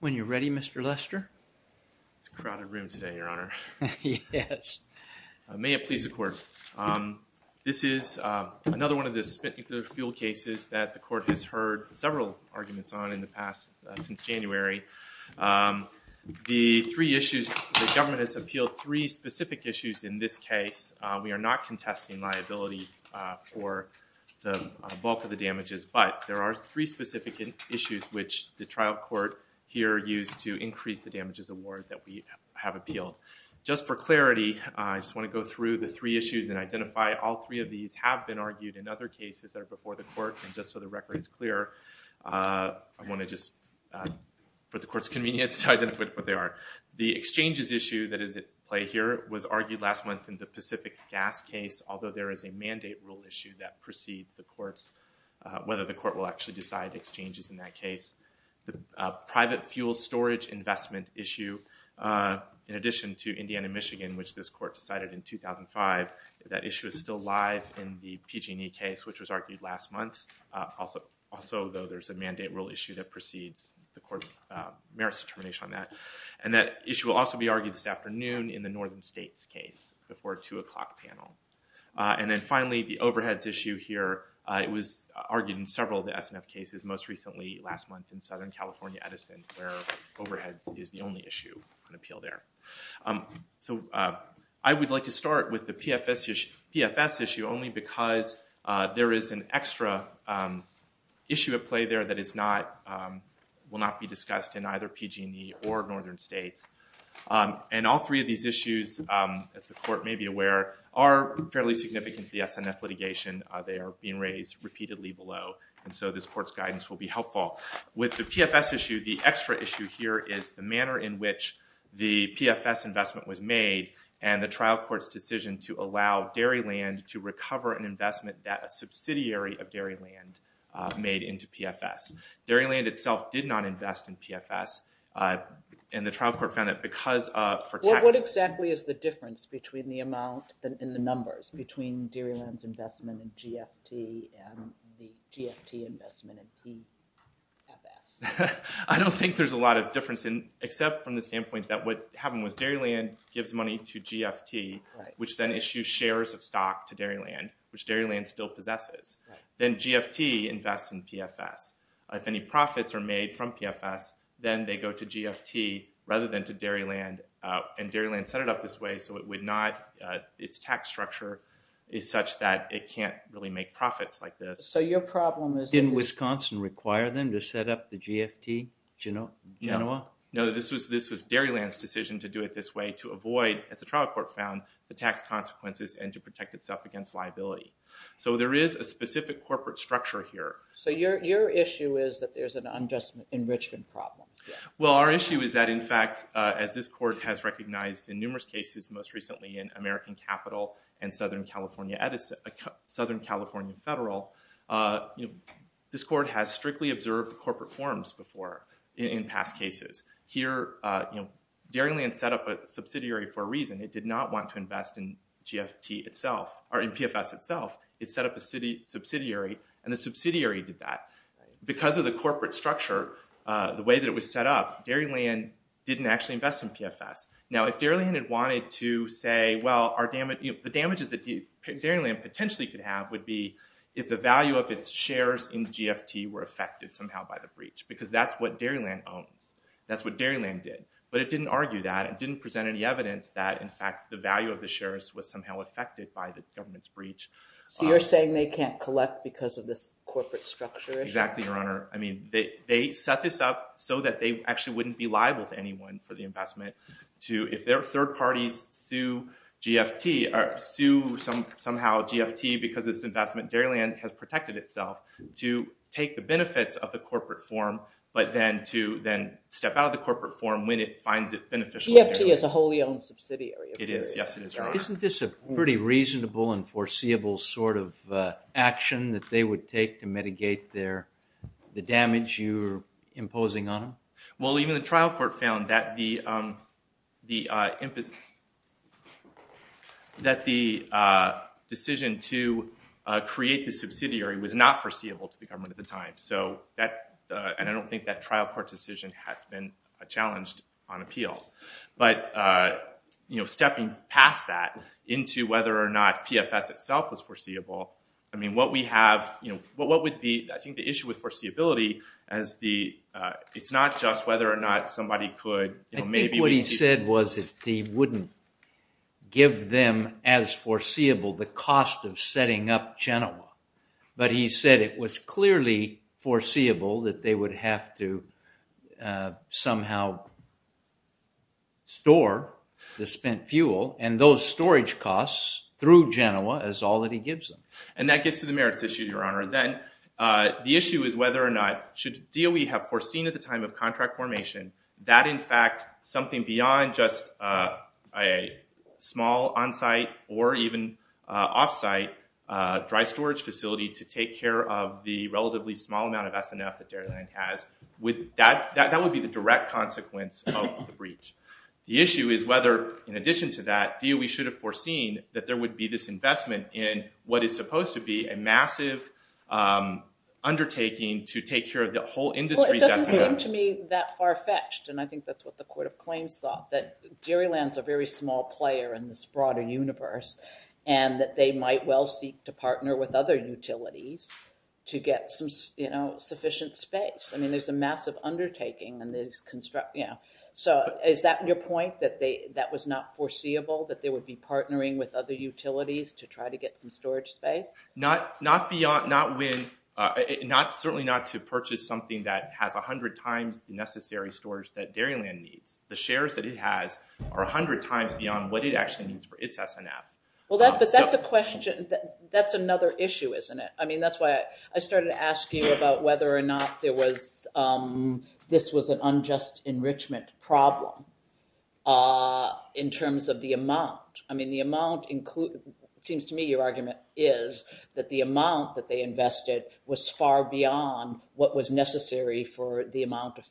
When you're ready, Mr. Lester. It's a crowded room today, Your Honor. May it please the court. This is another one of the spent nuclear fuel cases that the court has heard several arguments on in the past, since January. The three issues, the government has appealed three specific issues in this case. We are not contesting liability for the bulk of the damages, but there are three specific issues which the trial court here used to increase the damages award that we have appealed. Just for clarity, I just want to go through the three issues and identify all three of these have been argued in other cases that are before the court, and just so the record is clear, I want to just, for the court's convenience, to identify what they are. The exchanges issue that is at play here was argued last month in the Pacific Gas case, although there is a mandate rule issue that precedes the court's, whether the court will actually decide exchanges in that case. The private fuel storage investment issue, in addition to Indiana-Michigan, which this court decided in 2005, that issue is still live in the PG&E case, which was argued last month. Also, though, there's a mandate rule issue that precedes the court's merits determination on that. And that issue will also be argued this afternoon in the Northern States case before a two o'clock panel. And then finally, the overheads issue here, it was argued in several of the SNF cases, most recently last month in Southern California-Edison, where overheads is the only issue on appeal there. So, I would like to start with the PFS issue only because there is an extra issue at play there that is not, will not be discussed in either PG&E or Northern States. And all three of these issues, as the court may be aware, are fairly significant to the SNF litigation. They are being raised repeatedly below, and so this court's guidance will be helpful. With the PFS issue, the extra issue here is the manner in which the PFS investment was made, and the trial court's decision to allow Dairyland to recover an investment that a subsidiary of Dairyland made into PFS. Dairyland itself did not invest in PFS, and the trial court found that because of, for taxes. What exactly is the difference between the amount, in the numbers, between Dairyland's investment in GFT and the GFT investment in PFS? I don't think there's a lot of difference, except from the standpoint that what happened was Dairyland gives money to GFT, which then issues shares of stock to Dairyland, which Dairyland still possesses. Then GFT invests in PFS. If any profits are made from PFS, then they go to GFT rather than to Dairyland, and Dairyland set it up this way so it would not, its tax structure is such that it can't really make profits like this. So your problem is... Didn't Wisconsin require them to set up the GFT, Genoa? No, this was Dairyland's decision to do it this way to avoid, as the trial court found, the tax consequences and to protect itself against liability. So there is a specific corporate structure here. So your issue is that there's an unjust enrichment problem. Well, our issue is that, in fact, as this court has recognized in numerous cases, most recently in American Capital and Southern California Federal, this court has strictly observed the corporate forms before in past cases. Here, Dairyland set up a subsidiary for a reason. It did not want to invest in GFT itself, or in PFS itself. It set up a subsidiary, and the subsidiary did that. Because of the corporate structure, the way that it was set up, Dairyland didn't actually invest in PFS. Now, if Dairyland had wanted to say, well, the damages that Dairyland potentially could have would be if the value of its shares in GFT were affected somehow by the breach. Because that's what Dairyland owns. That's what Dairyland did. But it didn't argue that. It didn't present any evidence that, in fact, the value of the shares was somehow affected by the government's breach. So you're saying they can't collect because of this corporate structure issue? Exactly, Your Honor. I mean, they set this up so that they actually wouldn't be liable to anyone for the investment. If their third parties sue GFT, or sue somehow GFT because it's an investment, Dairyland has protected itself to take the benefits of the corporate form, but then step out of the corporate form when it finds it beneficial. GFT is a wholly owned subsidiary. It is. Yes, it is, Your Honor. Isn't this a pretty reasonable and foreseeable sort of action that they would take to mitigate the damage you're imposing on them? Well, even the trial court found that the decision to create the subsidiary was not foreseeable to the government at the time. And I don't think that trial court decision has been challenged on appeal. But, you know, stepping past that into whether or not PFS itself was foreseeable, I mean, what we have, you know, what would be, I think, the issue with foreseeability as the, it's not just whether or not somebody could, you know, maybe- I think what he said was that he wouldn't give them as foreseeable the cost of setting up Genoa. But he said it was clearly foreseeable that they would have to somehow store the spent fuel and those storage costs through Genoa is all that he gives them. And that gets to the merits issue, Your Honor. Then the issue is whether or not should DOE have foreseen at the time of contract formation that, in fact, something beyond just a small on-site or even off-site dry storage facility to take care of the relatively small amount of SNF that Dairyland has, that would be the direct consequence of the breach. The issue is whether, in addition to that, DOE should have foreseen that there would be this investment in what is supposed to be a massive undertaking to take care of the whole industry- Well, it doesn't seem to me that far-fetched. And I think that's what the court of claims thought, that Dairyland's a very small player in this broader universe and that they might well seek to partner with other utilities to get some, you know, sufficient space. I mean, there's a massive undertaking and there's construction. So is that your point, that that was not foreseeable, that they would be partnering with other utilities to try to get some storage space? Not beyond, certainly not to purchase something that has 100 times the necessary storage that Dairyland needs. The shares that it has are 100 times beyond what it actually needs for its SNF. Well, but that's another issue, isn't it? I mean, that's why I started to ask you about whether or not this was an unjust enrichment problem in terms of the amount. I mean, it seems to me your argument is that the amount that they invested was far beyond what was necessary for the amount of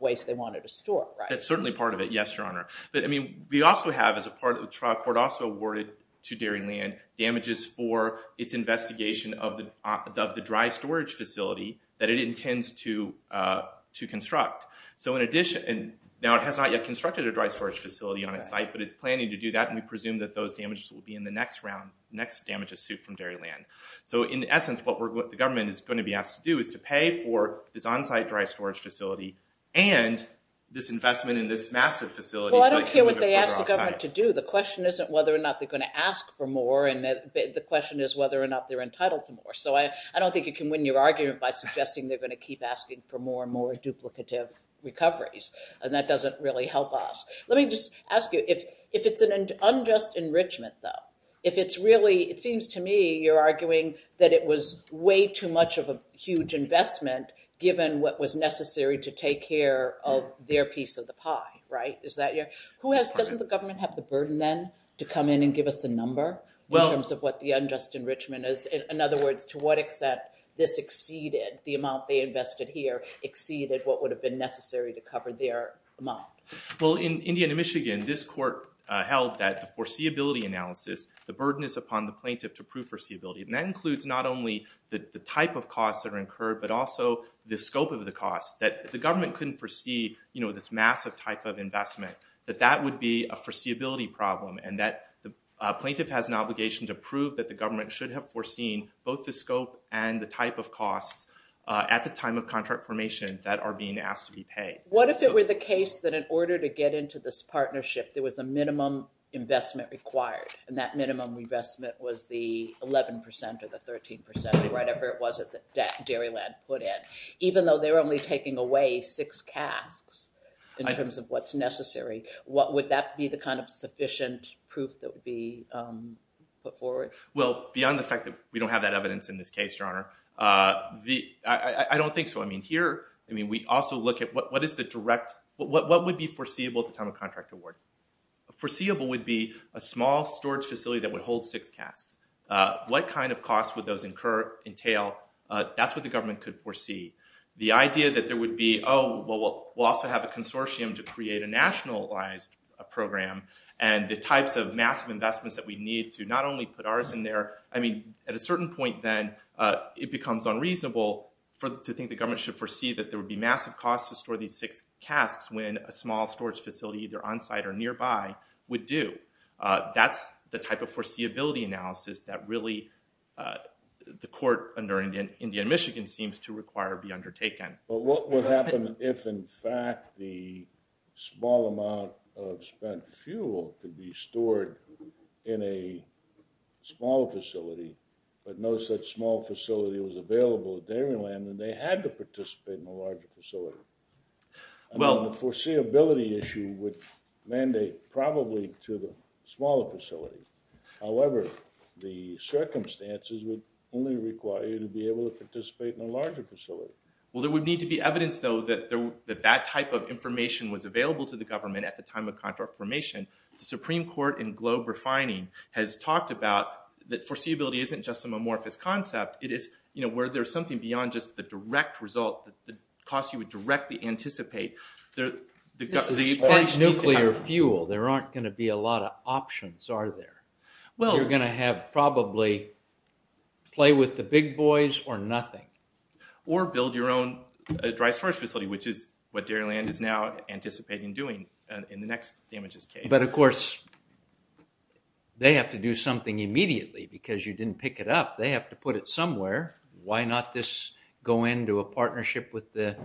waste they wanted to store, right? That's certainly part of it, yes, Your Honor. But, I mean, we also have, as a part of the trial, the court also awarded to Dairyland damages for its investigation of the dry storage facility that it intends to construct. So in addition, and now it has not yet constructed a dry storage facility on its site, but it's planning to do that, and we presume that those damages will be in the next round, the next damages suit from Dairyland. So in essence, what the government is going to be asked to do is to pay for this on-site dry storage facility and this investment in this massive facility. Well, I don't care what they ask the government to do. The question isn't whether or not they're going to ask for more, and the question is whether or not they're entitled to more. So I don't think you can win your argument by suggesting they're going to keep asking for more and more duplicative recoveries, and that doesn't really help us. Let me just ask you, if it's an unjust enrichment, though, if it's really, it seems to me you're arguing that it was way too much of a huge investment given what was necessary to take care of their piece of the pie, right? Doesn't the government have the burden, then, to come in and give us the number in terms of what the unjust enrichment is? In other words, to what extent this exceeded, the amount they invested here exceeded what would have been necessary to cover their amount? Well, in Indiana, Michigan, this court held that the foreseeability analysis, the burden is upon the plaintiff to prove foreseeability. And that includes not only the type of costs that are incurred, but also the scope of the costs, that the government couldn't foresee this massive type of investment, that that would be a foreseeability problem, and that the plaintiff has an obligation to prove that the government should have foreseen both the scope and the type of costs at the time of contract formation that are being asked to be paid. What if it were the case that in order to get into this partnership, there was a minimum investment required, and that minimum investment was the 11% or the 13% or whatever it was that Dairyland put in? Even though they're only taking away six casks in terms of what's necessary, would that be the kind of sufficient proof that would be put forward? Well, beyond the fact that we don't have that evidence in this case, Your Honor, I don't think so. I mean, here, I mean, we also look at what is the direct, what would be foreseeable at the time of contract award? Foreseeable would be a small storage facility that would hold six casks. What kind of costs would those entail? That's what the government could foresee. The idea that there would be, oh, well, we'll also have a consortium to create a nationalized program, and the types of massive investments that we need to not only put ours in there, I mean, at a certain point, then, it becomes unreasonable to think the government should foresee that there would be massive costs to store these six casks when a small storage facility either onsite or nearby would do. That's the type of foreseeability analysis that really the court under Indian Michigan seems to require be undertaken. But what would happen if, in fact, the small amount of spent fuel could be stored in a smaller facility, but no such small facility was available at Dairyland, and they had to participate in a larger facility? Well, the foreseeability issue would mandate probably to the smaller facility. However, the circumstances would only require you to be able to participate in a larger facility. Well, there would need to be evidence, though, that that type of information was available to the government at the time of confirmation. The Supreme Court in globe refining has talked about that foreseeability isn't just a mamorphous concept. It is where there's something beyond just the direct result, the cost you would directly anticipate. This is spent nuclear fuel. There aren't going to be a lot of options, are there? You're going to have probably play with the big boys or nothing. Or build your own dry storage facility, which is what Dairyland is now anticipating doing in the next damages case. But, of course, they have to do something immediately, because you didn't pick it up. They have to put it somewhere. Why not this go into a partnership with the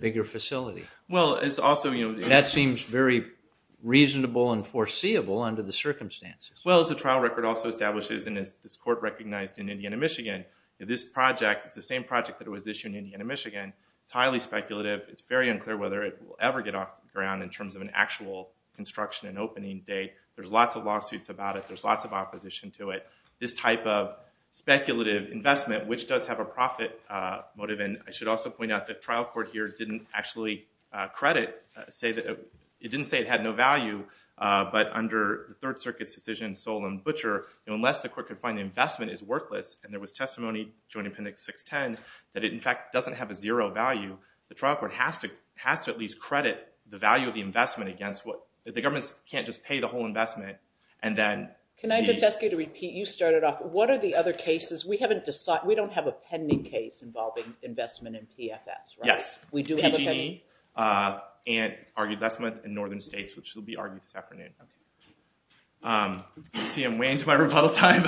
bigger facility? Well, it's also, you know- That seems very reasonable and foreseeable under the circumstances. Well, as the trial record also establishes, and as this court recognized in Indiana, Michigan, this project is the same project that was issued in Indiana, Michigan. It's highly speculative. It's very unclear whether it will ever get off the ground in terms of an actual construction and opening date. There's lots of lawsuits about it. There's lots of opposition to it. This type of speculative investment, which does have a profit motive, and I should also point out the trial court here didn't actually credit- It didn't say it had no value. But under the Third Circuit's decision, Solon Butcher, unless the court could find the investment is worthless, and there was testimony, Joint Appendix 610, that it, in fact, doesn't have a zero value, the trial court has to at least credit the value of the investment against what- The government can't just pay the whole investment, and then- Can I just ask you to repeat? You started off. What are the other cases? We haven't decided. We don't have a pending case involving investment in PFS, right? Yes. We do have a pending- PG&E, and argued Lesmoth in northern states, which will be argued this afternoon. I see I'm way into my rebuttal time.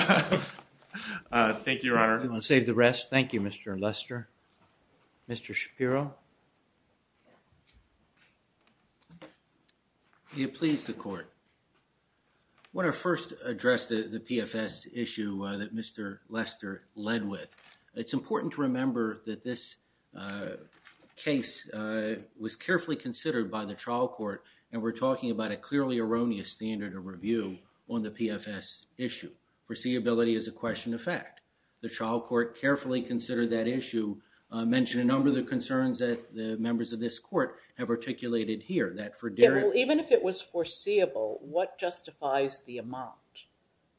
Thank you, Your Honor. I'll save the rest. Thank you, Mr. Lester. Mr. Shapiro? You please the court. I want to first address the PFS issue that Mr. Lester led with. It's important to remember that this case was carefully considered by the trial court, and we're talking about a clearly erroneous standard of review on the PFS issue. Foreseeability is a question of fact. The trial court carefully considered that issue, mentioned a number of the concerns that the members of this court have articulated here, that for Derek- Even if it was foreseeable, what justifies the amount?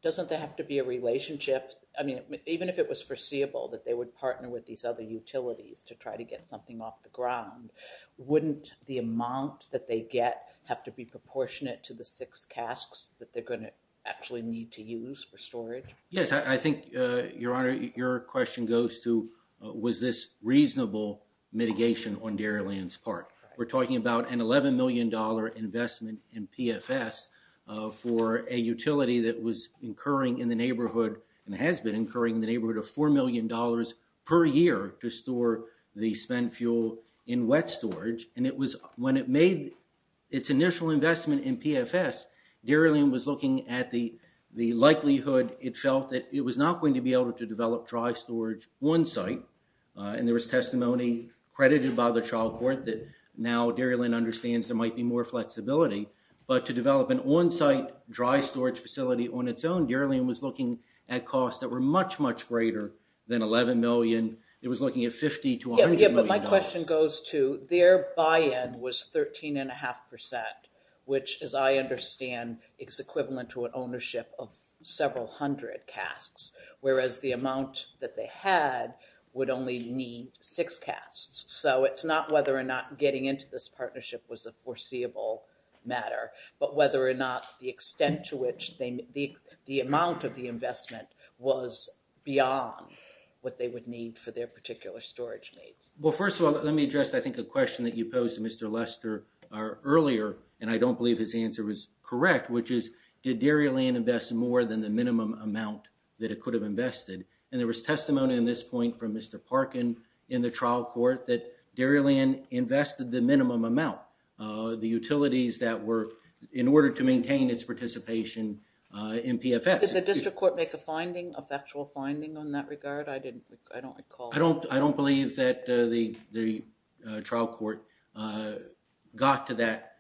Doesn't there have to be a relationship? I mean, even if it was foreseeable that they would partner with these other utilities to try to get something off the ground, wouldn't the amount that they get have to be proportionate to the six casks that they're going to actually need to use for storage? Yes, I think, Your Honor, your question goes to, was this reasonable mitigation on Dairylands Park? We're talking about an $11 million investment in PFS for a utility that was incurring in the neighborhood, and has been incurring in the neighborhood, of $4 million per year to store the spent fuel in wet storage. When it made its initial investment in PFS, Dairyland was looking at the likelihood it felt that it was not going to be able to develop dry storage on-site, and there was testimony credited by the trial court that now Dairyland understands there might be more flexibility, but to develop an on-site dry storage facility on its own, Dairyland was looking at costs that were much, much greater than $11 million. It was looking at $50 to $100 million. Yeah, but my question goes to, their buy-in was 13.5%, which, as I understand, is equivalent to an ownership of several hundred casks, whereas the amount that they had would only need six casks. So it's not whether or not getting into this partnership was a foreseeable matter, but whether or not the extent to which the amount of the investment was beyond what they would need for their particular storage needs. Well, first of all, let me address, I think, a question that you posed to Mr. Lester earlier, and I don't believe his answer was correct, which is, did Dairyland invest more than the minimum amount that it could have invested? And there was testimony in this point from Mr. Parkin in the trial court that Dairyland invested the minimum amount, the utilities that were, in order to maintain its participation in PFS. Did the district court make a finding, an actual finding in that regard? I don't recall. I don't believe that the trial court got to that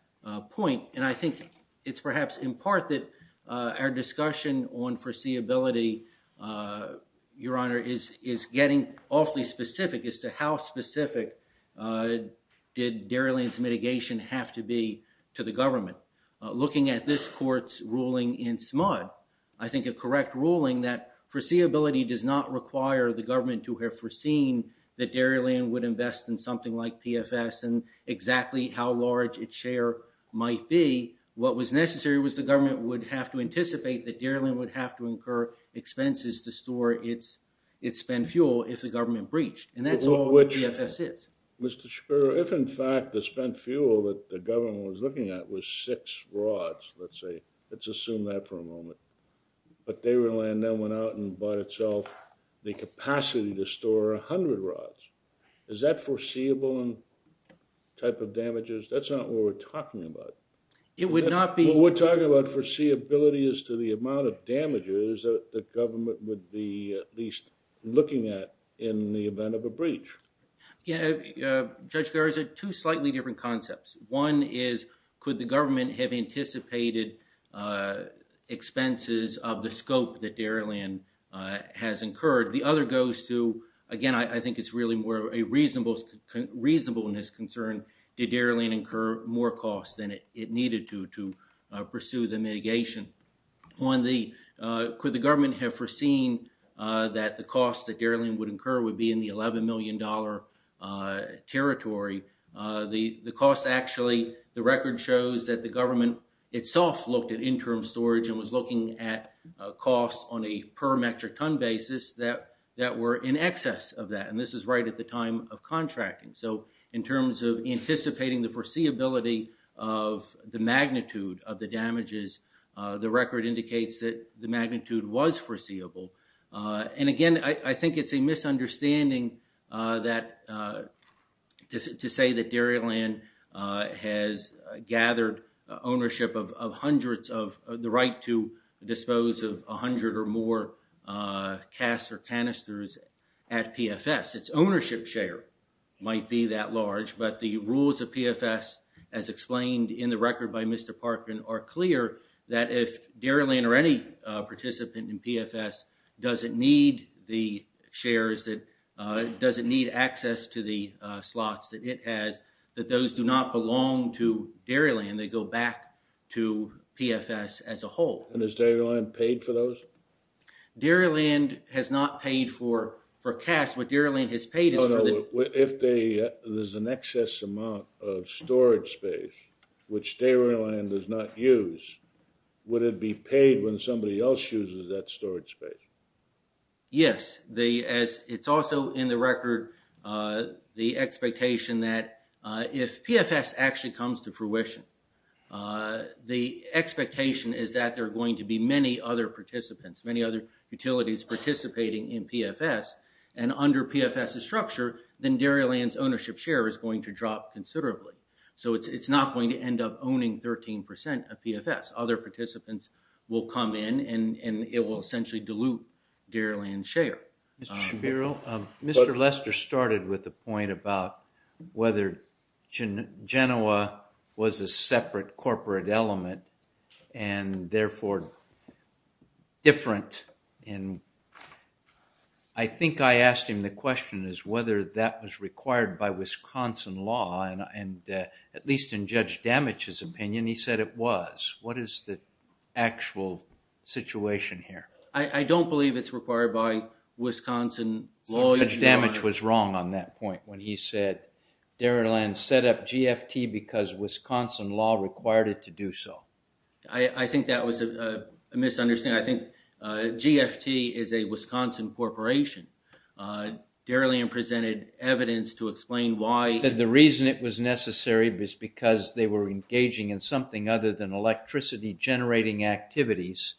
point, and I think it's perhaps in part that our discussion on foreseeability, Your Honor, is getting awfully specific as to how specific did Dairyland's mitigation have to be to the government. Looking at this court's ruling in SMUD, I think a correct ruling that foreseeability does not require the government to have foreseen that Dairyland would invest in something like PFS and exactly how large its share might be. What was necessary was the government would have to anticipate that Dairyland would have to incur expenses to store its spent fuel if the government breached, and that's all PFS is. Mr. Shapiro, if in fact the spent fuel that the government was looking at was six rods, let's say, let's assume that for a moment, but Dairyland then went out and bought itself the capacity to store 100 rods, is that foreseeable in type of damages? That's not what we're talking about. It would not be. What we're talking about foreseeability is to the amount of damages that the government would be at least looking at in the event of a breach. Yeah, Judge Garza, two slightly different concepts. One is could the government have anticipated expenses of the scope that Dairyland has incurred? The other goes to, again, I think it's really more a reasonableness concern. Did Dairyland incur more costs than it needed to to pursue the mitigation? On the could the government have foreseen that the cost that Dairyland would incur would be in the $11 million territory? The cost actually, the record shows that the government itself looked at interim storage and was looking at costs on a per metric ton basis that were in excess of that, and this is right at the time of contracting. So in terms of anticipating the foreseeability of the magnitude of the damages, the record indicates that the magnitude was foreseeable. And, again, I think it's a misunderstanding to say that Dairyland has gathered ownership of hundreds of, the right to dispose of 100 or more casts or canisters at PFS. Its ownership share might be that large, but the rules of PFS, as explained in the record by Mr. Parkin, are clear that if Dairyland or any participant in PFS doesn't need the shares, doesn't need access to the slots that it has, that those do not belong to Dairyland. They go back to PFS as a whole. And has Dairyland paid for those? Dairyland has not paid for casts. What Dairyland has paid is for the- which Dairyland does not use. Would it be paid when somebody else uses that storage space? Yes. It's also in the record the expectation that if PFS actually comes to fruition, the expectation is that there are going to be many other participants, many other utilities participating in PFS, and under PFS's structure, then Dairyland's ownership share is going to drop considerably. So it's not going to end up owning 13% of PFS. Other participants will come in, and it will essentially dilute Dairyland's share. Mr. Shapiro, Mr. Lester started with the point about whether Genoa was a separate corporate element and therefore different, and I think I asked him the question is whether that was required by Wisconsin law, and at least in Judge Damich's opinion, he said it was. What is the actual situation here? I don't believe it's required by Wisconsin law. Judge Damich was wrong on that point when he said Dairyland set up GFT because Wisconsin law required it to do so. I think that was a misunderstanding. I think GFT is a Wisconsin corporation. Dairyland presented evidence to explain why- He said the reason it was necessary was because they were engaging in something other than electricity generating activities,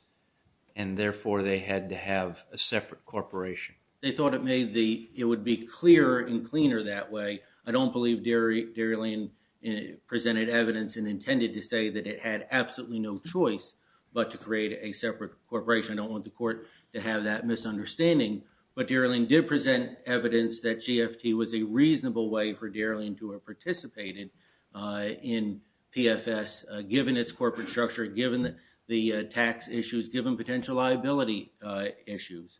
and therefore they had to have a separate corporation. They thought it would be clearer and cleaner that way. I don't believe Dairyland presented evidence and intended to say that it had absolutely no choice but to create a separate corporation. I don't want the court to have that misunderstanding, but Dairyland did present evidence that GFT was a reasonable way for Dairyland to have participated in PFS given its corporate structure, given the tax issues, given potential liability issues.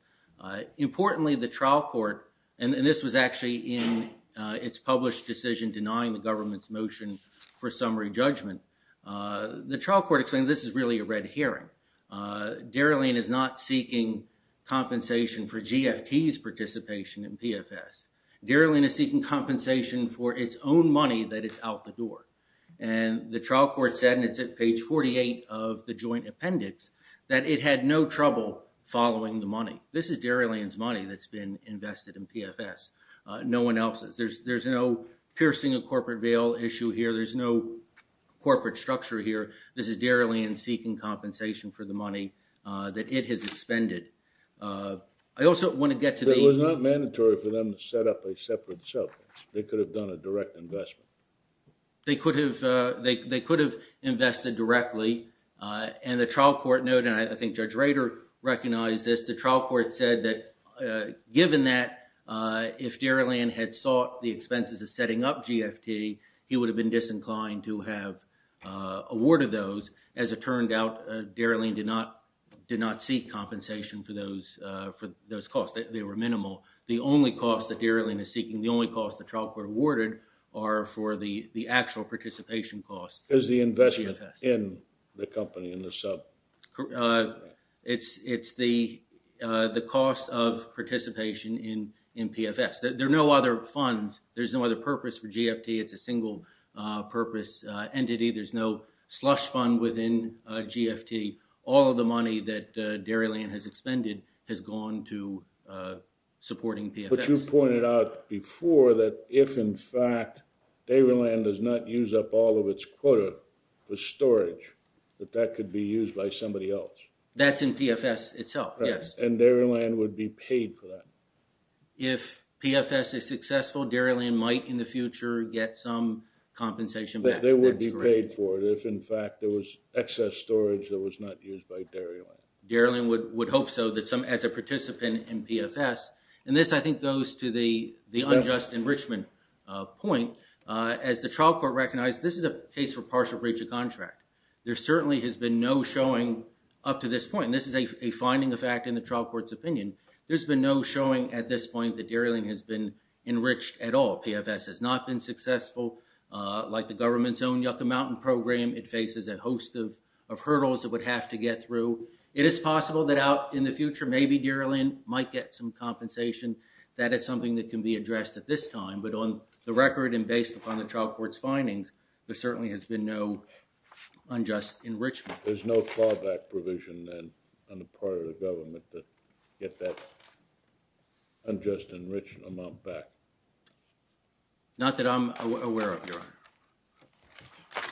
Importantly, the trial court, and this was actually in its published decision denying the government's motion for summary judgment, the trial court explained this is really a red herring. Dairyland is not seeking compensation for GFT's participation in PFS. Dairyland is seeking compensation for its own money that is out the door. The trial court said, and it's at page 48 of the joint appendix, that it had no trouble following the money. This is Dairyland's money that's been invested in PFS. No one else's. There's no piercing a corporate bail issue here. There's no corporate structure here. This is Dairyland seeking compensation for the money that it has expended. I also want to get to the- It was not mandatory for them to set up a separate sub. They could have done a direct investment. They could have invested directly, and the trial court noted, and I think Judge Rader recognized this, the trial court said that given that if Dairyland had sought the expenses of setting up GFT, he would have been disinclined to have awarded those. As it turned out, Dairyland did not seek compensation for those costs. They were minimal. The only cost that Dairyland is seeking, the only cost the trial court awarded, are for the actual participation costs. Is the investment in the company, in the sub? It's the cost of participation in PFS. There are no other funds. There's no other purpose for GFT. It's a single-purpose entity. There's no slush fund within GFT. All of the money that Dairyland has expended has gone to supporting PFS. But you pointed out before that if, in fact, Dairyland does not use up all of its quota for storage, that that could be used by somebody else. That's in PFS itself, yes. And Dairyland would be paid for that. If PFS is successful, Dairyland might, in the future, get some compensation back. They would be paid for it if, in fact, there was excess storage that was not used by Dairyland. Dairyland would hope so as a participant in PFS. And this, I think, goes to the unjust enrichment point. As the trial court recognized, this is a case for partial breach of contract. There certainly has been no showing up to this point. And this is a finding of fact in the trial court's opinion. There's been no showing at this point that Dairyland has been enriched at all. PFS has not been successful. Like the government's own Yucca Mountain program, it faces a host of hurdles it would have to get through. It is possible that out in the future, maybe Dairyland might get some compensation. That is something that can be addressed at this time. But on the record and based upon the trial court's findings, there certainly has been no unjust enrichment. There's no fallback provision then on the part of the government to get that unjust enrichment amount back. Not that I'm aware of, Your Honor. I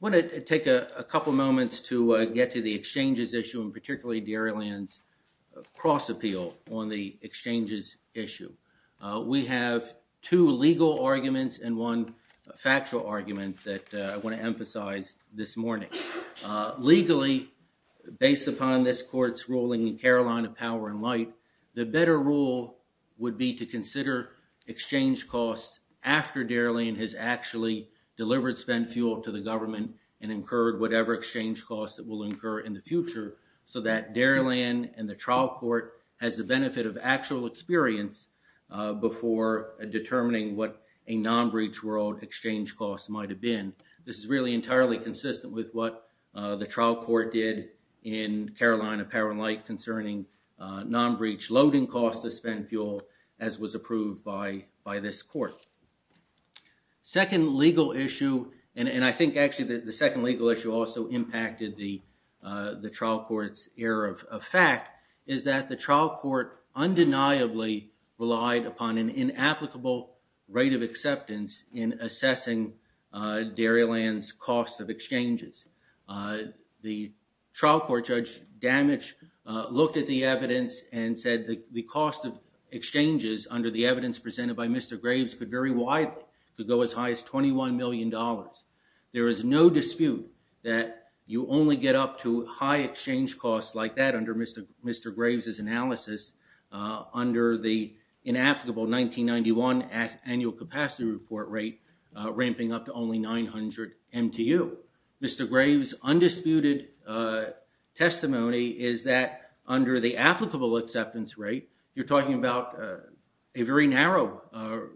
want to take a couple moments to get to the exchanges issue, and particularly Dairyland's cross-appeal on the exchanges issue. We have two legal arguments and one factual argument that I want to emphasize this morning. Legally, based upon this court's ruling in Carolina Power and Light, the better rule would be to consider exchange costs after Dairyland has actually delivered spent fuel to the government and incurred whatever exchange costs it will incur in the future so that Dairyland and the trial court has the benefit of actual experience before determining what a non-breach world exchange cost might have been. This is really entirely consistent with what the trial court did in Carolina Power and Light concerning non-breach loading costs to spend fuel as was approved by this court. Second legal issue, and I think actually the second legal issue also impacted the trial court's error of fact, is that the trial court undeniably relied upon an inapplicable rate of acceptance in assessing Dairyland's cost of exchanges. The trial court judge, Damage, looked at the evidence and said the cost of exchanges under the evidence presented by Mr. Graves could vary widely, could go as high as $21 million. There is no dispute that you only get up to high exchange costs like that under Mr. Graves' analysis under the inapplicable 1991 annual capacity report rate ramping up to only 900 MTU. Mr. Graves' undisputed testimony is that under the applicable acceptance rate, you're talking about a very narrow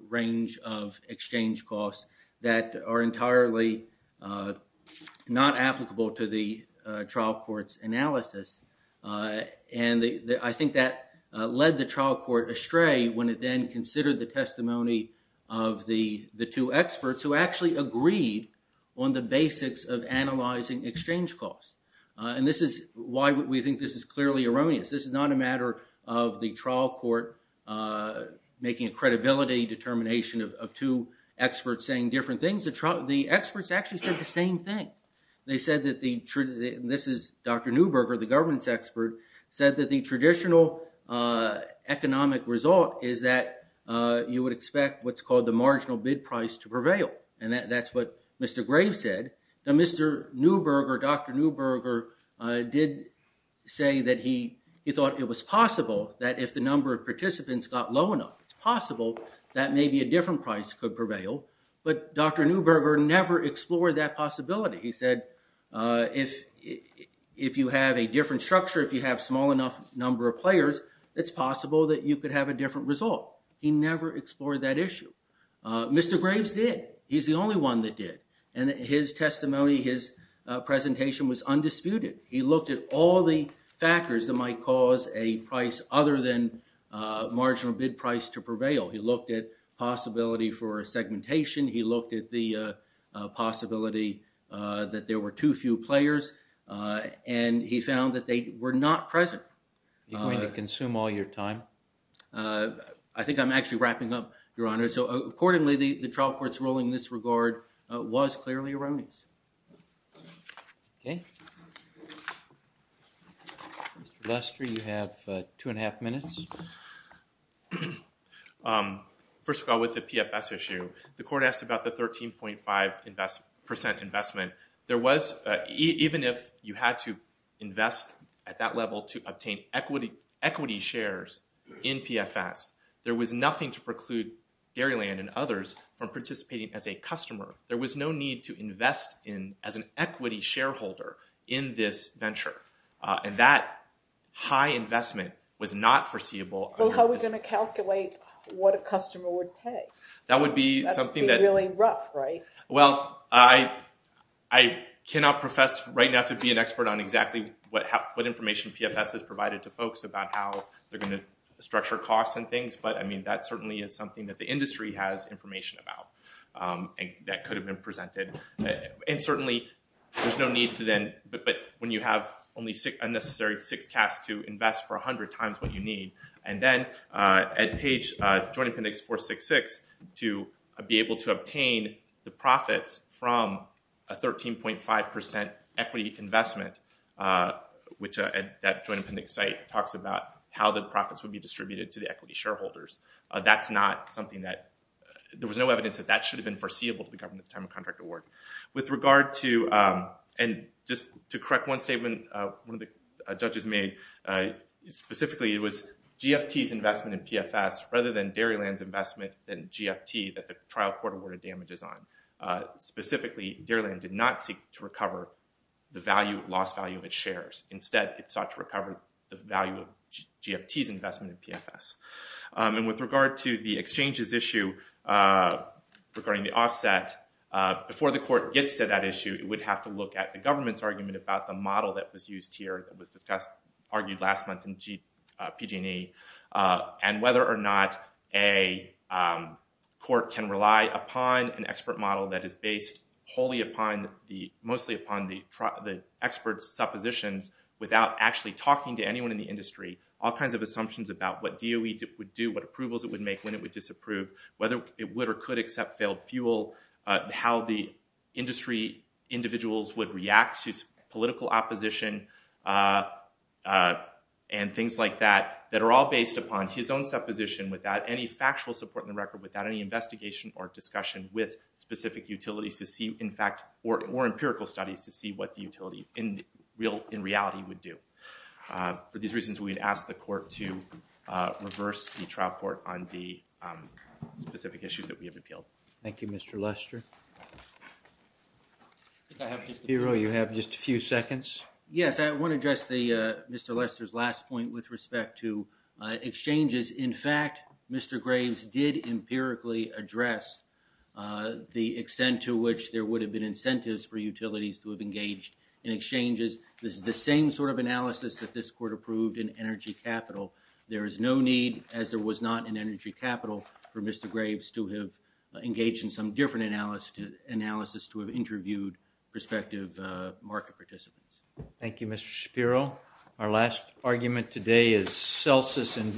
range of exchange costs that are entirely not applicable to the trial court's analysis. And I think that led the trial court astray when it then considered the testimony of the two experts who actually agreed on the basics of analyzing exchange costs. And this is why we think this is clearly erroneous. This is not a matter of the trial court making a credibility determination of two experts saying different things. The experts actually said the same thing. They said that the—this is Dr. Neuberger, the governance expert— said that the traditional economic result is that you would expect what's called the marginal bid price to prevail. And that's what Mr. Graves said. Now, Mr. Neuberger, Dr. Neuberger, did say that he thought it was possible that if the number of participants got low enough, it's possible that maybe a different price could prevail. But Dr. Neuberger never explored that possibility. He said if you have a different structure, if you have a small enough number of players, it's possible that you could have a different result. He never explored that issue. Mr. Graves did. He's the only one that did. And his testimony, his presentation was undisputed. He looked at all the factors that might cause a price other than marginal bid price to prevail. He looked at possibility for segmentation. He looked at the possibility that there were too few players. And he found that they were not present. Are you going to consume all your time? I think I'm actually wrapping up, Your Honor. So, accordingly, the trial court's ruling in this regard was clearly a remnant. Thank you. Mr. Lester, you have two and a half minutes. First of all, with the PFS issue, the court asked about the 13.5 percent investment. Even if you had to invest at that level to obtain equity shares in PFS, there was nothing to preclude Dairyland and others from participating as a customer. There was no need to invest as an equity shareholder in this venture. And that high investment was not foreseeable. Well, how are we going to calculate what a customer would pay? That would be something that— That would be really rough, right? Well, I cannot profess right now to be an expert on exactly what information PFS has provided to folks about how they're going to structure costs and things. But, I mean, that certainly is something that the industry has information about that could have been presented. And certainly there's no need to then— But when you have only a necessary six casts to invest for 100 times what you need, and then at page Joint Appendix 466 to be able to obtain the profits from a 13.5 percent equity investment, which that Joint Appendix site talks about how the profits would be distributed to the equity shareholders, that's not something that— There was no evidence that that should have been foreseeable to the government at the time of contract award. With regard to— And just to correct one statement one of the judges made, specifically it was GFT's investment in PFS rather than Dairyland's investment in GFT that the trial court awarded damages on. Specifically, Dairyland did not seek to recover the lost value of its shares. Instead, it sought to recover the value of GFT's investment in PFS. And with regard to the exchanges issue regarding the offset, before the court gets to that issue it would have to look at the government's argument about the model that was used here, that was argued last month in PG&E, and whether or not a court can rely upon an expert model that is based wholly upon the—mostly upon the expert's suppositions without actually talking to anyone in the industry, all kinds of assumptions about what DOE would do, what approvals it would make, when it would disapprove, whether it would or could accept failed fuel, how the industry individuals would react to political opposition and things like that, that are all based upon his own supposition without any factual support in the record, without any investigation or discussion with specific utilities to see, in fact, or empirical studies to see what the utilities in reality would do. For these reasons, we'd ask the court to reverse the trial court on the specific issues that we have appealed. Thank you, Mr. Lester. Piero, you have just a few seconds. Yes, I want to address Mr. Lester's last point with respect to exchanges. In fact, Mr. Graves did empirically address the extent to which there would have been incentives for utilities to have engaged in exchanges. This is the same sort of analysis that this court approved in energy capital. There is no need, as there was not in energy capital, for Mr. Graves to have engaged in some different analysis to have interviewed prospective market participants. Thank you, Mr. Piero. Our last argument today is Celsus and Vietnam.